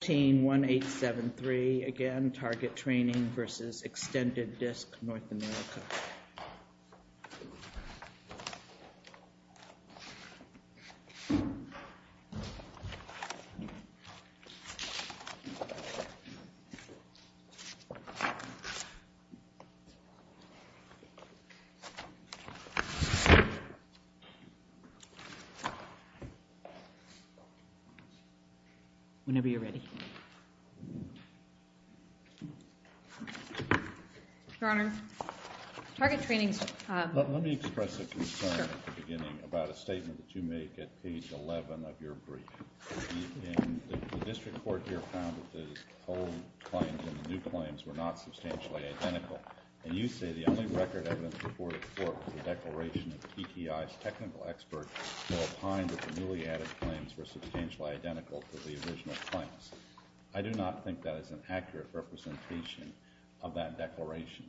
Team 1873 again, Target Training v. Extended Disc North America. Whenever you are ready. Then I recommend the hearing be in the Brass Trench, at every station in the country, where the criminal team more than any time has danced to deformed realities. full responsibility million dollars. Attorney Triana. It is now apparent that in the Y Uh, already the 謝 час. significant fail on both sides of the carpe diem and that, level playing field the next exercise. I spoke to Ben Herman, who is also a Tippy Detective and addressed a racial idiot term in the brief. I do not think that is an accurate representation of that declaration.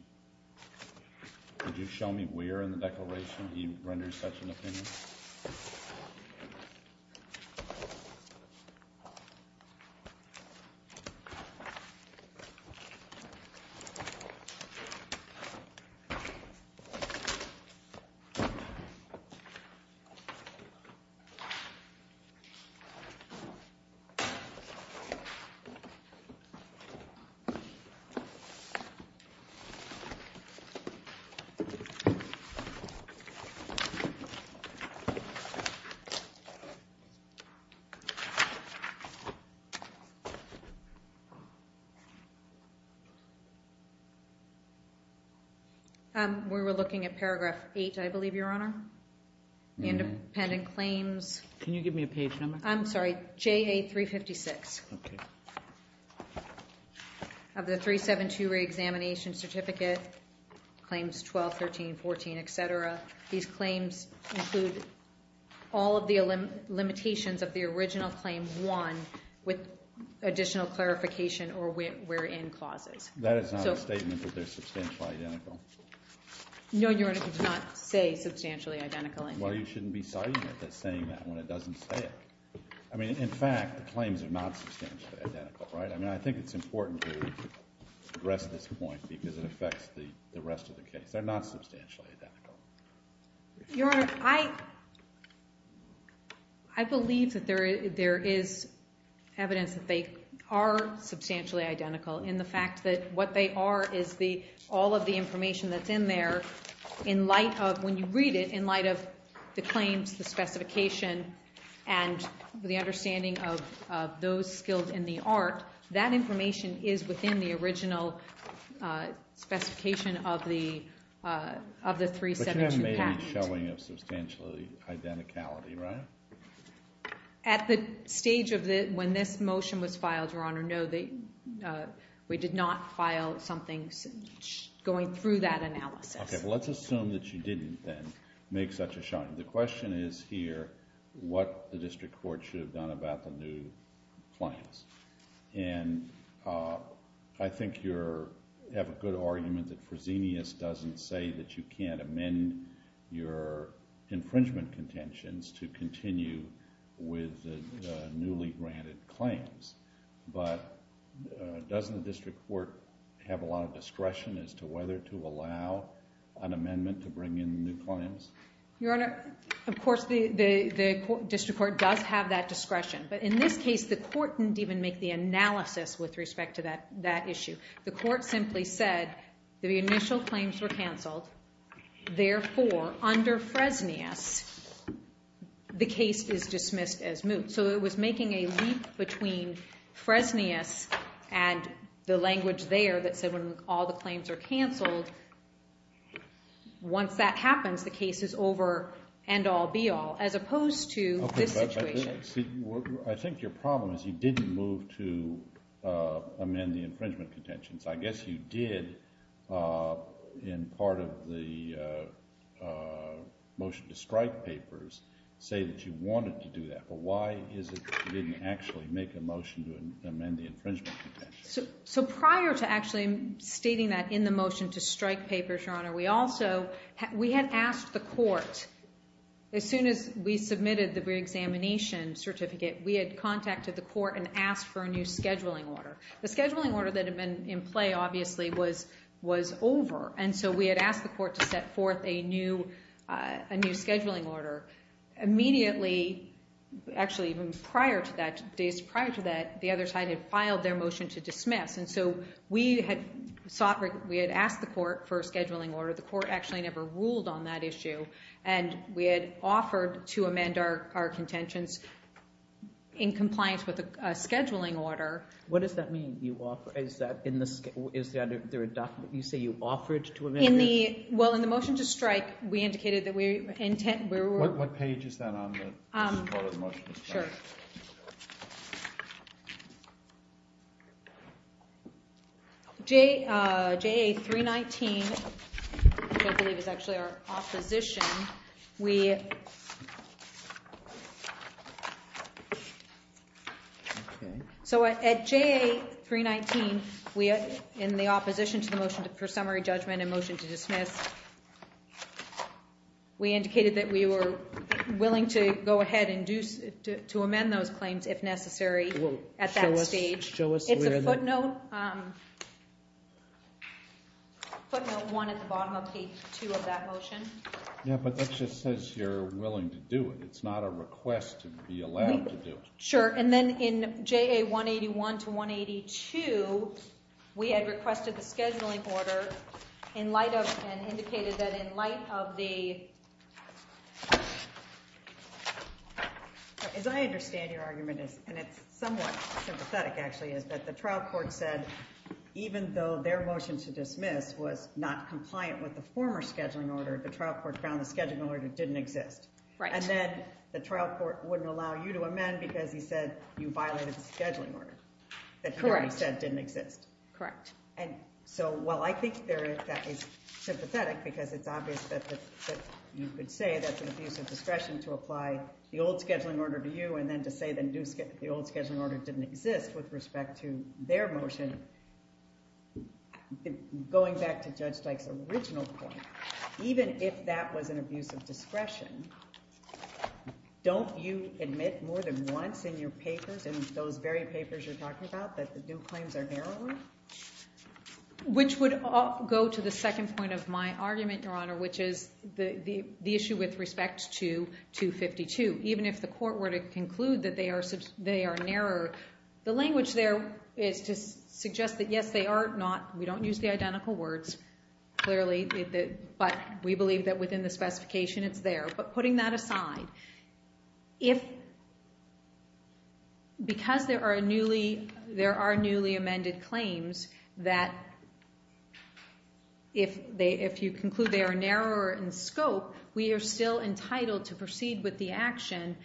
Could you show me where in the declaration he renders such an opinion? Um, we were looking at paragraph eight, I believe, your honor. The independent claims. Can you give me a page number? I'm sorry. J a three 56. Okay. I have it. L should be present of the 372 reexamination certificate claims. 12, 13, 14, et cetera. These claims include all of the limitations of the original claim. One with additional clarification or with wherein clauses, that there's a statement that they're substantially identical. No. You're not say substantially identical. And why? should be starting with the same one? It doesn't ask me in fact, the claims are beats in time, right? I mean, I think it's important to address this point because it affects the rest of the case. They're not substantially. You're right. I, I believe that there is evidence that they are substantially identical in the fact that what they are is the, all of the information that's in there in light of when you read it in light of the claims, the specification and the understanding of those skills in the art, that information is within the original specification of the, of the 3-7-2 patent. But you have maybe showing of substantially identicality, right? At the stage of the, when this motion was filed, your honor, no, they, we did not file something going through that analysis. Let's assume that you didn't then make such a shine. The question is here, what the district court should have done about the new clients. And, uh, I think you're have a good argument that presenius doesn't say that you can't amend your infringement contentions to continue with the newly granted claims. But doesn't the district court have a lot of discretion as to whether to allow an amendment to bring in new clients? Your honor, of course, the, the, the district court does have that discretion, but in this case, the court didn't even make the analysis with respect to that, that issue. The court simply said that the initial claims were canceled. Therefore under Fresnius, the case is dismissed as moot. So it was making a leap between Fresnius and the language there that said, when all the claims are canceled, once that happens, the case is over and all be all as opposed to this I think your problem is you didn't move to amend the infringement contentions. I guess you did in part of the motion to strike papers say that you wanted to do that, but why is it that you didn't actually make a motion to amend the infringement? So prior to actually stating that in the motion to strike papers, your honor, we also had, we had asked the court as soon as we submitted the reexamination certificate, we had contacted the court and asked for a new scheduling order. The scheduling order that had been in play obviously was, was over. And so we had asked the court to set forth a new, a new scheduling order immediately, actually even prior to that days, prior to that, the other side had filed their motion to dismiss. And so we had sought, we had asked the court for a scheduling order. The court actually never ruled on that issue. And we had offered to amend our, our contentions. In compliance with the scheduling order. What does that mean? You offer, is that in the, is that there a document you say you offered to amend? In the, well, in the motion to strike, we indicated that we intent, we were, what page is that on the, um, sure. J uh, J three 19, I believe is actually our opposition. We, okay. So at J three 19, we are in the opposition to the motion to per summary judgment and motion to dismiss. We indicated that we were willing to go ahead and do to amend those claims if necessary at that stage. It's a footnote, um, footnote one at the bottom of page two of that motion. Yeah. But that just says you're willing to do it. It's not a request to be allowed to do it. Sure. And then in J a one 81 to one 82, we had requested the scheduling order in light of, and indicated that in light of the, as I understand your argument is, and it's somewhat sympathetic actually is that the trial court said, even though their motion to dismiss was not compliant with the former scheduling order, the trial court found the scheduling order didn't exist. Right. And then the trial court wouldn't allow you to amend because he said you violated the scheduling order that he said didn't exist. Correct. And so, well, I think there is sympathetic because it's obvious that you could say that's an abuse of discretion to apply the old scheduling order to you. And then to say, then do the old scheduling order didn't exist with respect to their motion. Going back to judge Dyke's original point, even if that was an abuse of discretion, don't you admit more than once in your papers and those very papers you're talking about, that the new claims are narrowing, which would go to the second point of my argument, your honor, which is the, the, the issue with respect to two 52, even if the court were to conclude that they are, so they are narrower, the language there is to suggest that yes, they are not, we don't use the identical words clearly, but we believe that within the specification it's there, but putting that aside, if because there are newly, there are newly amended claims that if they, if you conclude they are narrower in scope, we are still entitled to proceed with the action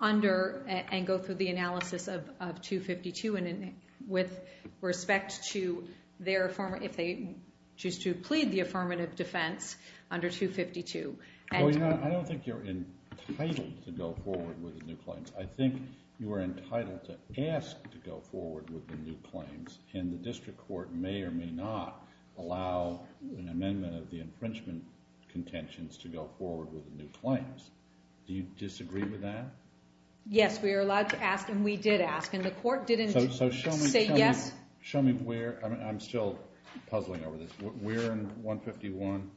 under and go through the analysis of two 52. And with respect to their form, if they choose to plead the affirmative defense under two 52. I don't think you're entitled to go forward with the new claims. I think you are entitled to ask to go forward with the new claims and the district court may or may not allow an amendment of the infringement contentions to go forward with the new claims. Do you disagree with that? Yes, we are allowed to ask. And we did ask and the court didn't say yes. Show me where I'm still puzzling over this. We're in one 51.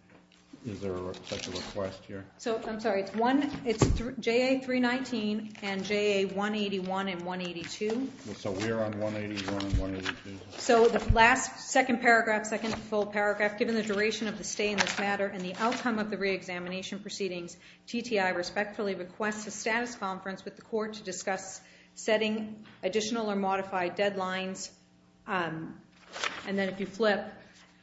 Is there a request here? So I'm sorry, it's one, it's J a three 19 and J a one 81 and one 82. So we're on one 81 and one 82. So the last second paragraph, second full paragraph, given the duration of the stay in this matter and the outcome of the reexamination proceedings, TTI respectfully requests a status conference with the court to discuss setting additional or modified deadlines. Um, and then if you flip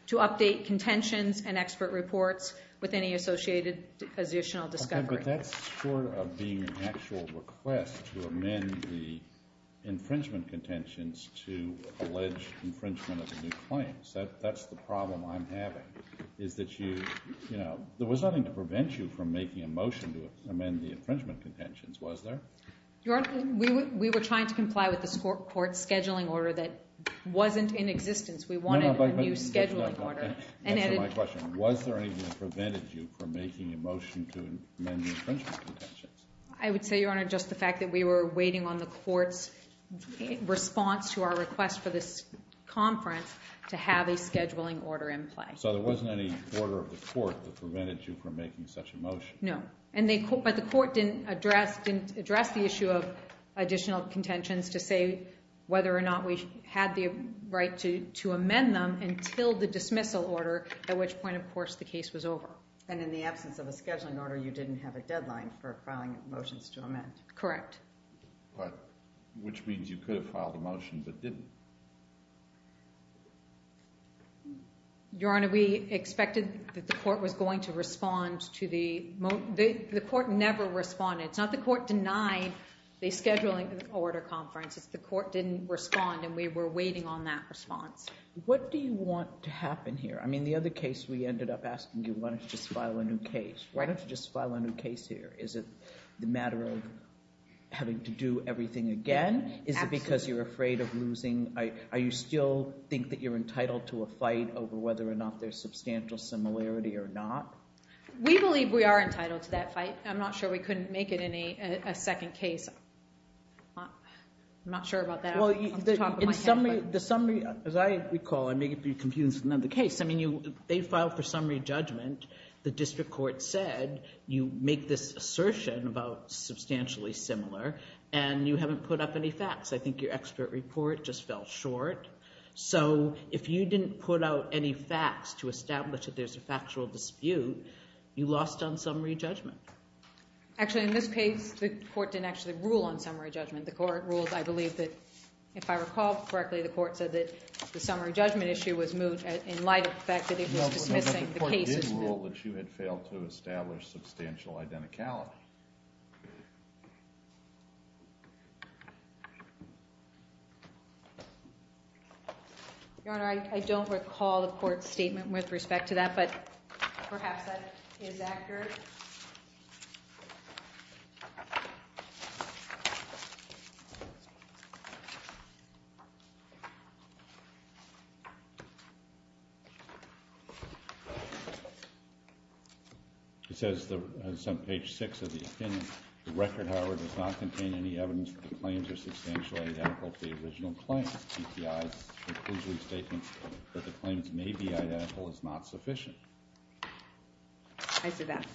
to update contentions and expert reports with any associated positional discovery, that's sort of being an actual request to amend the infringement contentions to allege infringement of the new claims. That's the problem I'm having is that you, you know, there was nothing to prevent you from making a motion to amend the infringement contentions. Was there? Your honor, we were, we were trying to comply with this court court scheduling order that wasn't in existence. We wanted a new scheduling order. And then my question was there anything that prevented you from making a motion to amend the infringement contentions? I would say your honor, just the fact that we were waiting on the court's response to our request for this conference to have a scheduling order in play. So there wasn't any order of the court that prevented you from making such a motion. No. And they, but the court didn't address, didn't address the issue of additional contentions to say whether or not we had the right to, to amend them until the dismissal order, at which point, of course the case was over. And in the absence of a scheduling order, you didn't have a deadline for filing motions to amend. Correct. But which means you could have filed a motion, but didn't. Your honor, we expected that the court was going to respond to the, the court never responded. It's not the court denied the scheduling order conference. It's the court didn't respond and we were waiting on that response. What do you want to happen here? I mean, the other case we ended up asking you, why don't you just file a new case? Why don't you just file a new case here? Is it the matter of having to do everything again? Is it because you're afraid of losing? Are you still think that you're entitled to a fight over whether or not there's substantial similarity or not? We believe we are entitled to that fight. I'm not sure we couldn't make it any, a second case. I'm not sure about that. Well, you did in summary, the summary as I recall, I make it be confused with another case. I mean, you, they filed for summary judgment. The district court said you make this assertion about substantially similar and you haven't put up any facts. I think your expert report just fell short. So if you didn't put out any facts to establish that there's a factual dispute, you lost on summary judgment. Actually in this case, the court didn't actually rule on summary judgment. The court rules. I believe that if I recall correctly, the court said that the summary judgment issue was moved in light of the fact that it was dismissing the cases that you had failed to establish substantial identicality. Your Honor, I don't recall the court statement with respect to that, but perhaps that is accurate. Okay. It says the page six of the opinion, the record, however, does not contain any evidence that the claims are substantially identical to the original claim. TPI's conclusion statement that the claims may be identical is not sufficient. I see that.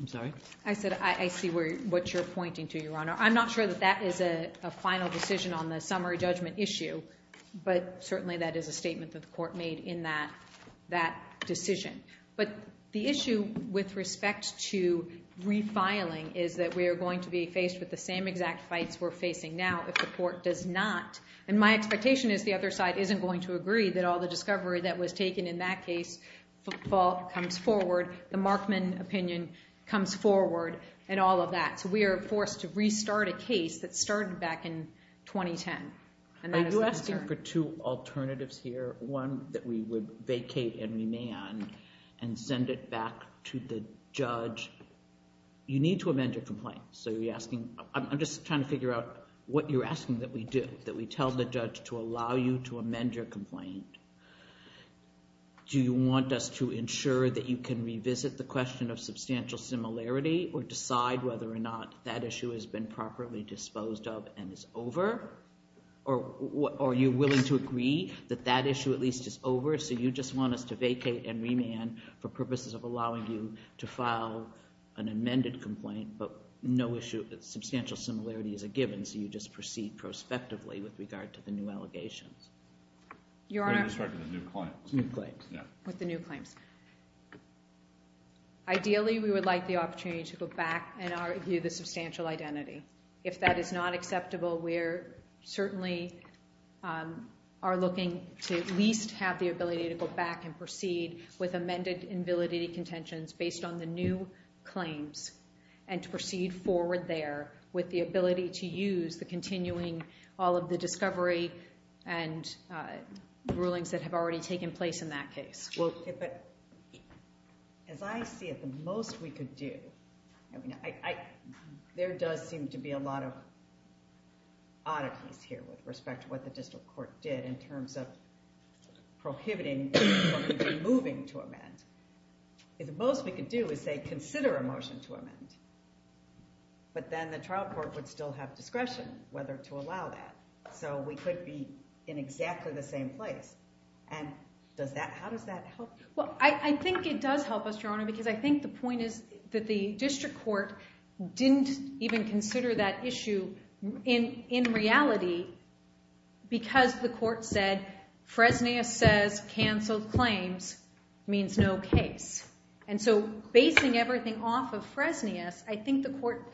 I'm sorry. I said, I see what you're pointing to. Your Honor. I'm not sure that that is a final decision on the summary judgment issue, but certainly that is a statement that the court made in that decision. But the issue with respect to refiling is that we are going to be faced with the same exact fights we're facing now if the court does not. And my expectation is the other side isn't going to agree that all the discovery that was taken in that case comes forward. The Markman opinion comes forward and all of that. So we are forced to restart a case that started back in 2010. Are you asking for two alternatives here? One that we would vacate and remand and send it back to the judge. You need to amend your complaint. So you're asking, I'm just trying to figure out what you're asking that we do, that we tell the judge to allow you to amend your complaint. Do you want us to ensure that you can revisit the question of substantial similarity or decide whether or not that issue has been properly disposed of and is over? Or are you willing to agree that that issue at least is over? So you just want us to vacate and remand for purposes of allowing you to file an amended complaint, but no issue. Substantial similarity is a given. So you just proceed prospectively with regard to the new allegations. Your Honor. With the new claims. Ideally we would like the opportunity to go back and review the substantial identity. If that is not acceptable, we're certainly are looking to at least have the ability to go back and proceed with amended invalidity contentions based on the new claims and to proceed forward there with the ability to use the continuing all of the discovery and uh, rulings that have already taken place in that case. Well, as I see it, the most we could do, I mean, I, there does seem to be a lot of oddities here with respect to what the district court did in terms of prohibiting moving to amend. If the most we could do is say, consider a motion to amend, but then the trial court would still have discretion whether to allow that. So we could be in exactly the same place. And does that, how does that help? Well, I think it does help us, Your Honor, because I think the point is that the district court didn't even consider that issue in, in reality because the court said Fresnius says canceled claims means no case. And so basing everything off of Fresnius, I think the court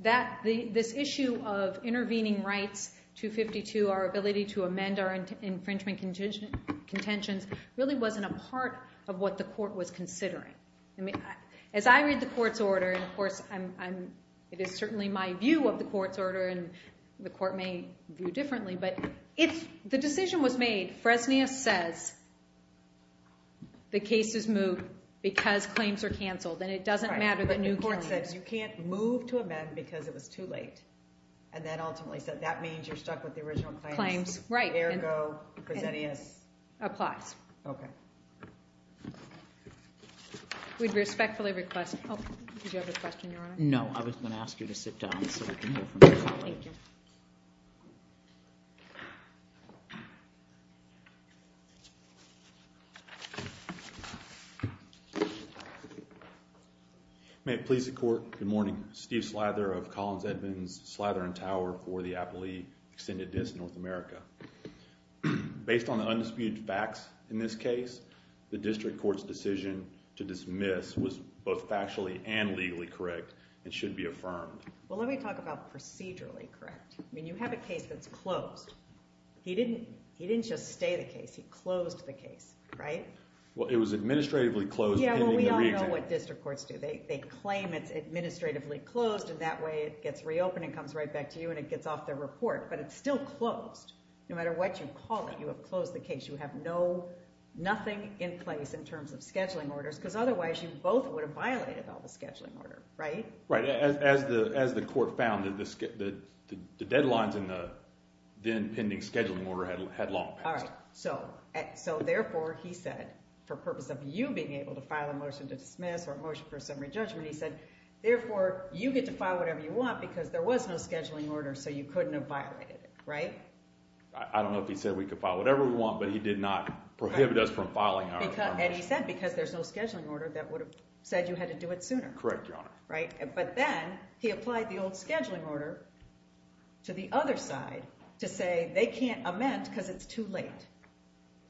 that the, this issue of intervening rights to 52, our ability to amend our infringement contingent contentions really wasn't a part of what the court was considering. I mean, as I read the court's order, and of course I'm, I'm, it is certainly my view of the court's order and the court may view differently. But if the decision was made, Fresnius says the case is moved because claims are canceled and it doesn't matter. You can't move to amend because it was too late. And then ultimately said that means you're stuck with the original claims. Right. There you go. Applies. Okay. We'd respectfully request. Did you have a question, Your Honor? No, I was going to ask you to sit down. May it please the court. Good morning. Steve Slather of Collins Edmonds, Slather and Tower for the Appalachee Extended District of North America. Based on the undisputed facts in this case, the district court's decision to dismiss was both factually and legally correct and should be affirmed. Well, let me talk about procedurally correct. I mean, you have a case that's closed. He didn't, he didn't just stay the case. He closed the case, right? Well, it was administratively closed. Yeah. Well, we all know what district courts do. They claim it's administratively closed and that way it gets reopened and comes right back to you and it gets off their report, but it's still closed. No matter what you call it, you have closed the case. You have no nothing in place in terms of scheduling orders because otherwise you both would have violated all the scheduling order, right? Right. As the, as the court found that the, the, the deadlines in the then pending scheduling order had long passed. All right. So, so therefore he said, for purpose of you being able to file a motion to dismiss or a motion for summary judgment, he said, therefore you get to file whatever you want because there was no scheduling order. So you couldn't have violated it, right? I don't know if he said we could file whatever we want, but he did not prohibit us from filing. And he said, because there's no scheduling order that would have said you had to do it sooner. Correct. Your Honor. Right. But then he applied the old scheduling order to the other side to say they can't amend because it's too late.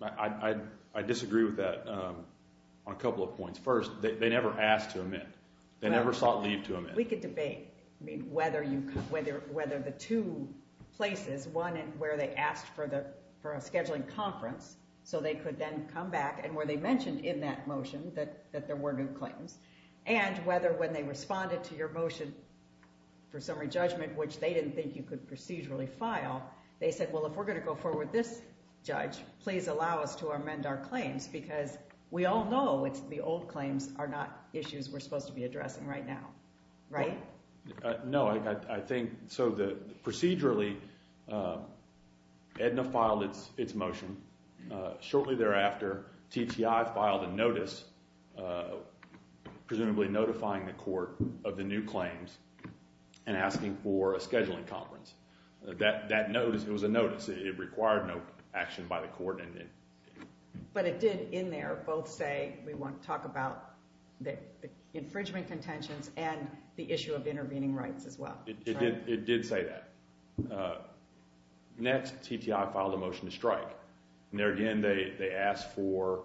I, I, I disagree with that. Um, on a couple of points. First, they never asked to amend. They never sought leave to amend. We could debate, I mean, whether you, whether, whether the two places, one where they asked for the, for a scheduling conference, so they could then come back and where they mentioned in that motion that, that there were new claims and whether when they responded to your motion for summary judgment, which they didn't think you could procedurally file, they said, well, if we're going to go forward with this judge, please allow us to amend our claims because we all know it's the old claims are not issues we're supposed to be addressing right now. Right? No, I, I think so. The procedurally, um, Edna filed its, its motion. Uh, shortly thereafter, TTI filed a notice, uh, presumably notifying the court of the new claims and asking for a scheduling conference. That, that notice, it was a notice. It required no action by the court. But it did in there both say, we want to talk about the infringement contentions and the issue of intervening rights as well. It did say that, uh, next TTI filed a motion to strike. And there again, they, they asked for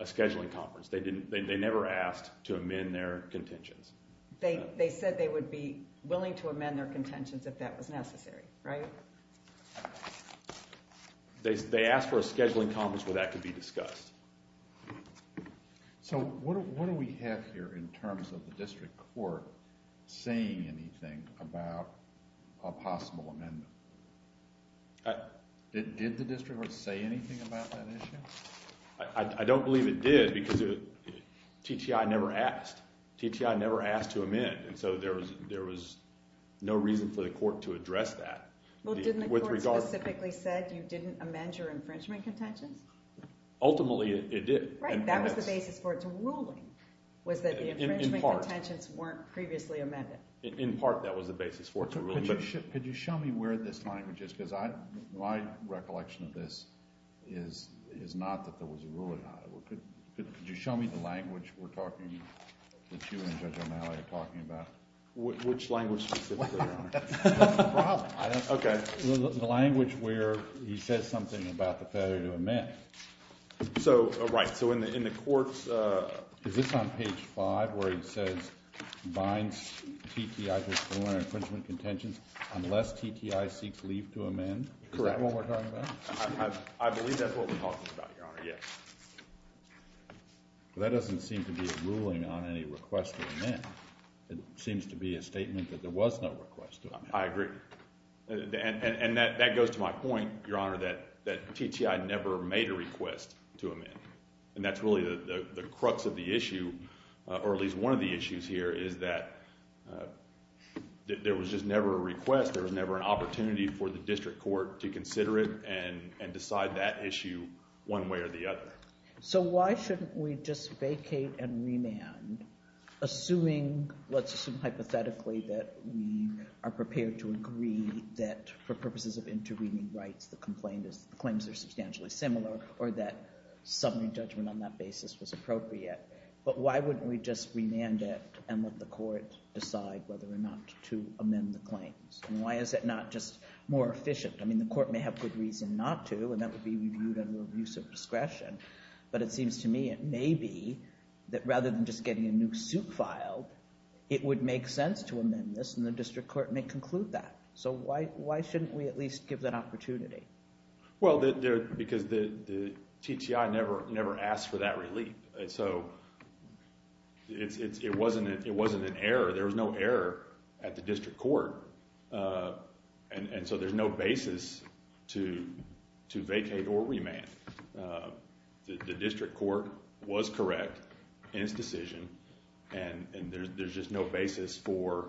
a scheduling conference. They didn't, they never asked to amend their contentions. They, they said they would be willing to amend their contentions if that was necessary, right? They, they asked for a scheduling conference where that could be discussed. So what do we have here in terms of the district court saying anything about a possible amendment? Did the district court say anything about that issue? I don't believe it did because TTI never asked. TTI never asked to amend. And so there was, there was no reason for the court to address that. Well, didn't the court specifically said you didn't amend your infringement contentions? Ultimately it did. Right. That was the basis for its ruling was that the infringement contentions weren't previously amended. In part that was the basis for it. Could you show me where this language is? Cause I, my recollection of this is, is not that there was a ruling on it. Could you show me the language we're talking that you and Judge O'Malley are talking about? Which language specifically, Your Honor? Okay. The language where he says something about the failure to amend. So, right. So in the, in the courts, uh, is this on page five where he says binds TTI to its ruling on infringement contentions unless TTI seeks leave to amend? Correct. Is that what we're talking about? I believe that's what we're talking about, Your Honor. Yes. Well, that doesn't seem to be a ruling on any request to amend. It seems to be a statement that there was no request to amend. I agree. And, and, and that, that goes to my point, Your Honor, that, that TTI never made a request to amend. And that's really the crux of the issue, uh, or at least one of the issues here is that, uh, that there was just never a request. There was never an opportunity for the district court to consider it and, and decide that issue one way or the other. So why shouldn't we just vacate and remand assuming, let's assume hypothetically that we are prepared to agree that for purposes of intervening rights, the complaint is the claims are substantially similar or that summary judgment on that basis was appropriate, but why wouldn't we just remand it and let the court decide whether or not to amend the claims? And why is it not just more efficient? I mean, the court may have good reason not to, and that would be reviewed under abuse of discretion, but it seems to me, it may be that rather than just getting a new suit filed, it would make sense to amend this and the district court may conclude that. So why, why shouldn't we at least give that opportunity? Well, there, because the, the TTI never, never asked for that relief. So it's, it's, it wasn't, it wasn't an error. There was no error at the district court. Uh, and so there's no basis to, to vacate or remand. Uh, the district court was correct in its decision and there's, there's just no basis for,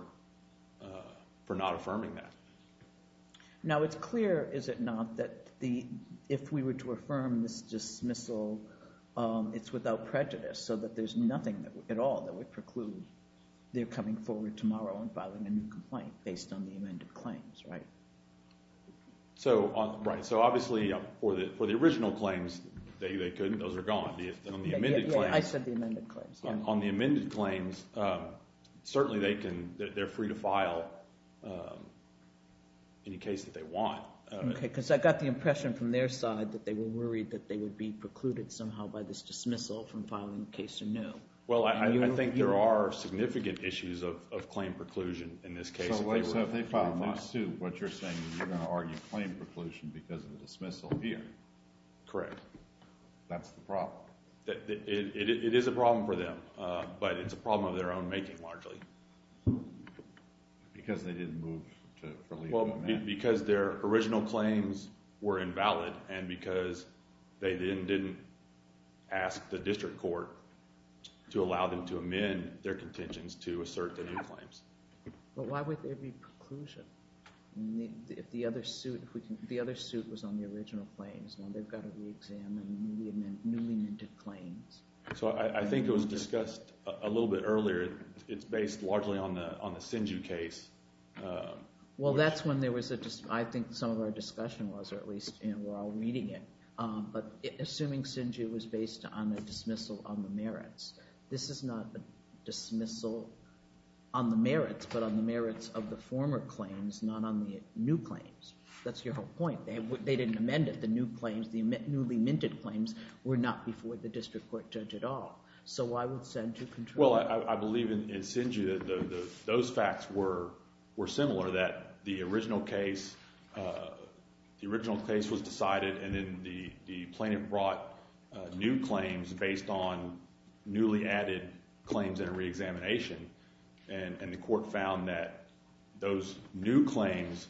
uh, for not affirming that. Now it's clear. Is it not that the, if we were to affirm this dismissal, um, it's without prejudice so that there's nothing at all that would preclude their coming forward tomorrow and filing a new complaint based on the amended claims, right? So on, right. So obviously for the, for the original claims, they, they couldn't, those are gone. The, on the amended claims. Yeah, I said the amended claims. On the amended claims, um, certainly they can, they're free to file, um, any case that they want. Okay. Cause I got the impression from their side that they were worried that they would be precluded somehow by this dismissal from filing the case anew. Well, I, I think there are significant issues of, of claim preclusion in this case. So if they file a new suit, what you're saying is you're going to argue claim preclusion because of the dismissal here. Correct. That's the problem. It is a problem for them, uh, but it's a problem of their own making largely. Because they didn't move to relieve the amendment. Well, because their original claims were invalid and because they then didn't ask the district court to allow them to amend their contentions to assert the new claims. But why would there be preclusion? If the other suit, if we can, the other suit was on the original claims. Now they've got to re-examine the newly amended claims. So I think it was discussed a little bit earlier. It's based largely on the, on the Sinju case. Well, that's when there was a, I think some of our discussion was, or at least while reading it, um, but assuming Sinju was based on the dismissal on the merits, this is not a dismissal on the merits, but on the merits of the former claims, not on the new claims. That's your whole point. They didn't amend it. The new claims, the newly minted claims were not before the district court judge at all. So why would Sinju control? Well, I believe in Sinju that those facts were similar, that the original case, uh, the original case was decided and then the plaintiff brought new claims based on newly added claims and a re-examination. And the court found that those new claims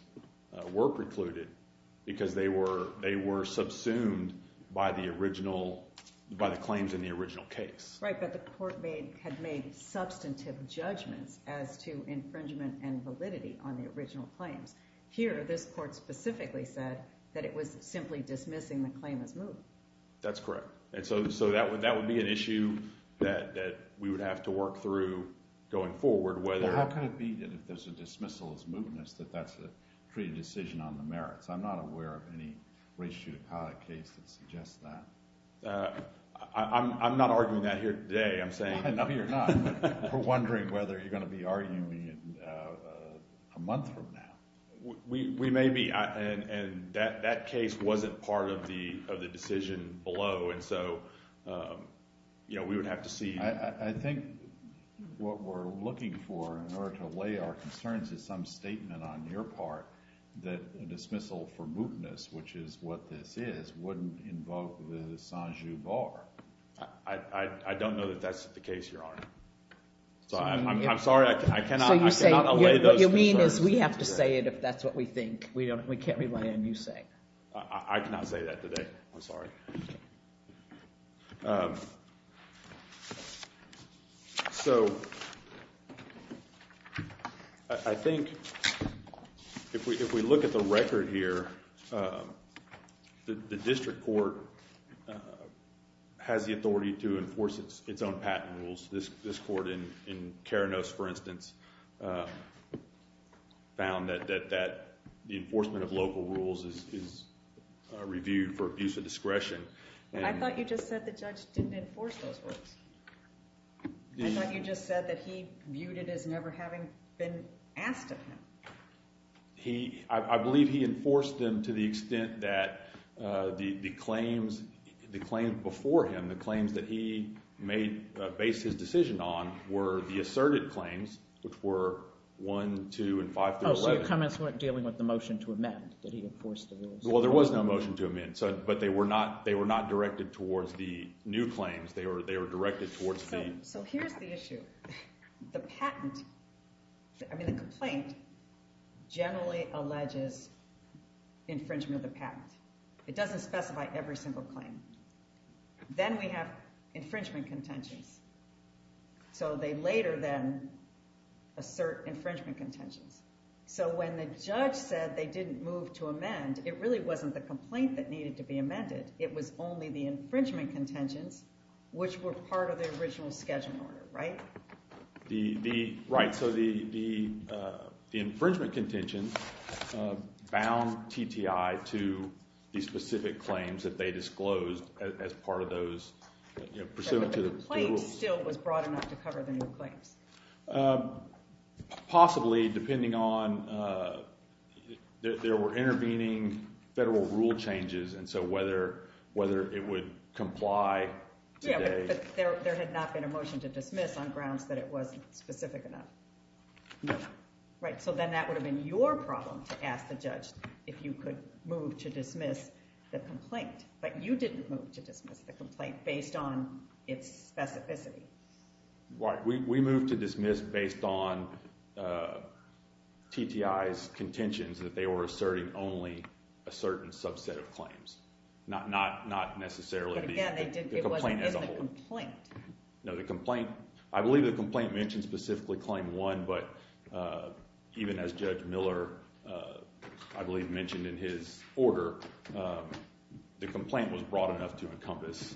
were precluded because they were, they were subsumed by the original, by the claims in the original case. Right. But the court made, had made substantive judgments as to infringement and validity on the original claims. Here, this court specifically said that it was simply dismissing the claim as moved. That's correct. And so, so that would, that would be an issue that we would have to work through going forward. Whether. How can it be that if there's a dismissal as moved, and it's that that's a pretty decision on the merits. I'm not aware of any race judicata case that suggests that. I'm not arguing that here today. I'm saying. We're wondering whether you're going to be arguing a month from now. We may be. And that, that case wasn't part of the decision below. And so, you know, we would have to see. I think what we're looking for in order to lay our concerns is some statement on your part that a dismissal for mootness, which is what this is wouldn't invoke the Sanju Bar. I don't know that that's the case, Your Honor. So I'm, I'm sorry. I cannot, I cannot allay those. What you mean is we have to say it if that's what we think. We don't, we can't rely on you saying. I cannot say that today. I'm sorry. Um, so I think if we, if we look at the record here, um, the, the district court has the authority to enforce its own patent rules. This, this court in, in Karanos, for instance, uh, found that, that, that the enforcement of local rules is, is reviewed for abuse of discretion. I thought you just said the judge didn't enforce those words. I thought you just said that he viewed it as never having been asked of him. He, I believe he enforced them to the extent that, uh, the, the claims, the claim before him, the claims that he made based his decision on were the asserted claims, which were one, two, and five. Oh, so your comments weren't dealing with the motion to amend that he enforced the rules. Well, there was no motion to amend. So, but they were not, they were not directed towards the new claims. They were, they were directed towards the. So here's the issue. The patent, I mean, the complaint generally alleges infringement of the patent. It doesn't specify every single claim. Then we have infringement contentions. So they later then assert infringement contentions. So when the judge said they didn't move to amend, it really wasn't the complaint that needed to be amended. It was only the infringement contentions, which were part of the original schedule order, right? The, the, right. So the, the, uh, the infringement contentions, uh, bound TTI to the specific claims that they disclosed as part of those pursuant to the. Still was broad enough to cover the new claims. Um, possibly depending on, uh, there were intervening federal rule changes. And so whether, whether it would comply. Yeah, but there, there had not been a motion to dismiss on grounds that it wasn't specific enough. Right. So then that would have been your problem to ask the judge if you could move to dismiss the complaint, but you didn't move to dismiss the complaint based on its specificity. Right. We, we moved to dismiss based on, uh, TTI's contentions that they were asserting only a certain subset of claims, not, not, not necessarily. No, the complaint, I believe the complaint mentioned specifically claim one, but, uh, even as judge Miller, uh, I believe mentioned in his order, um, the complaint was broad enough to encompass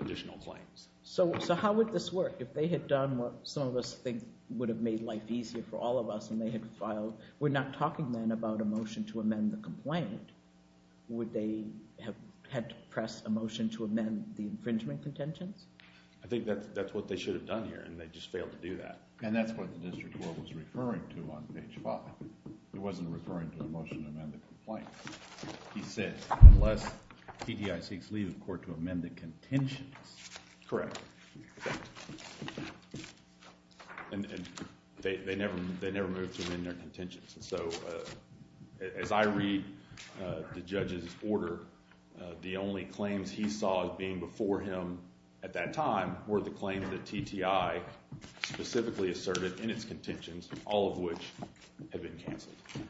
additional claims. So, so how would this work if they had done what some of us think would have made life easier for all of us when they had filed? We're not talking then about a motion to amend the complaint. Would they have had to press a motion to amend the infringement contentions? I think that that's what they should have done here. And they just failed to do that. And that's what the district court was referring to on page five. It wasn't referring to a motion to amend the complaint. He said, unless TTI seeks leave of court to amend the contentions. Correct. Okay. And they, they never, they never moved from in their contentions. And so, uh, as I read, uh, the judge's order, uh, the only claims he saw as being before him at that time were the claim that TTI specifically asserted in its contentions, all of which have been canceled. Okay.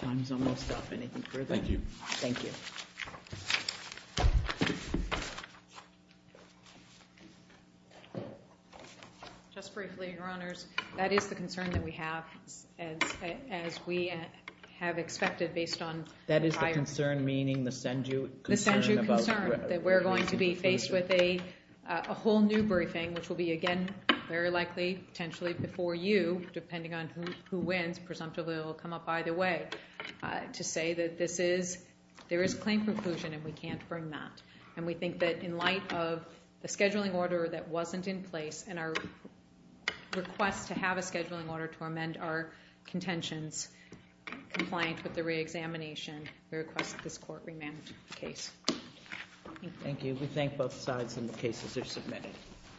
Time's almost up. Anything further? Thank you. Just briefly, your honors, that is the concern that we have as, as we have expected based on that is the concern, meaning the send you concern that we're going to be faced with a whole new briefing, which will be again, very likely potentially before you, depending on who, who wins, presumptively will come up by the way to say that this is there is claim preclusion and we can't bring that. And we think that in light of the scheduling order that wasn't in place and our request to have a scheduling order to amend our contentions compliant with the reexamination, we request this court remand case. Okay. Thank you. We thank both sides and the cases are submitted.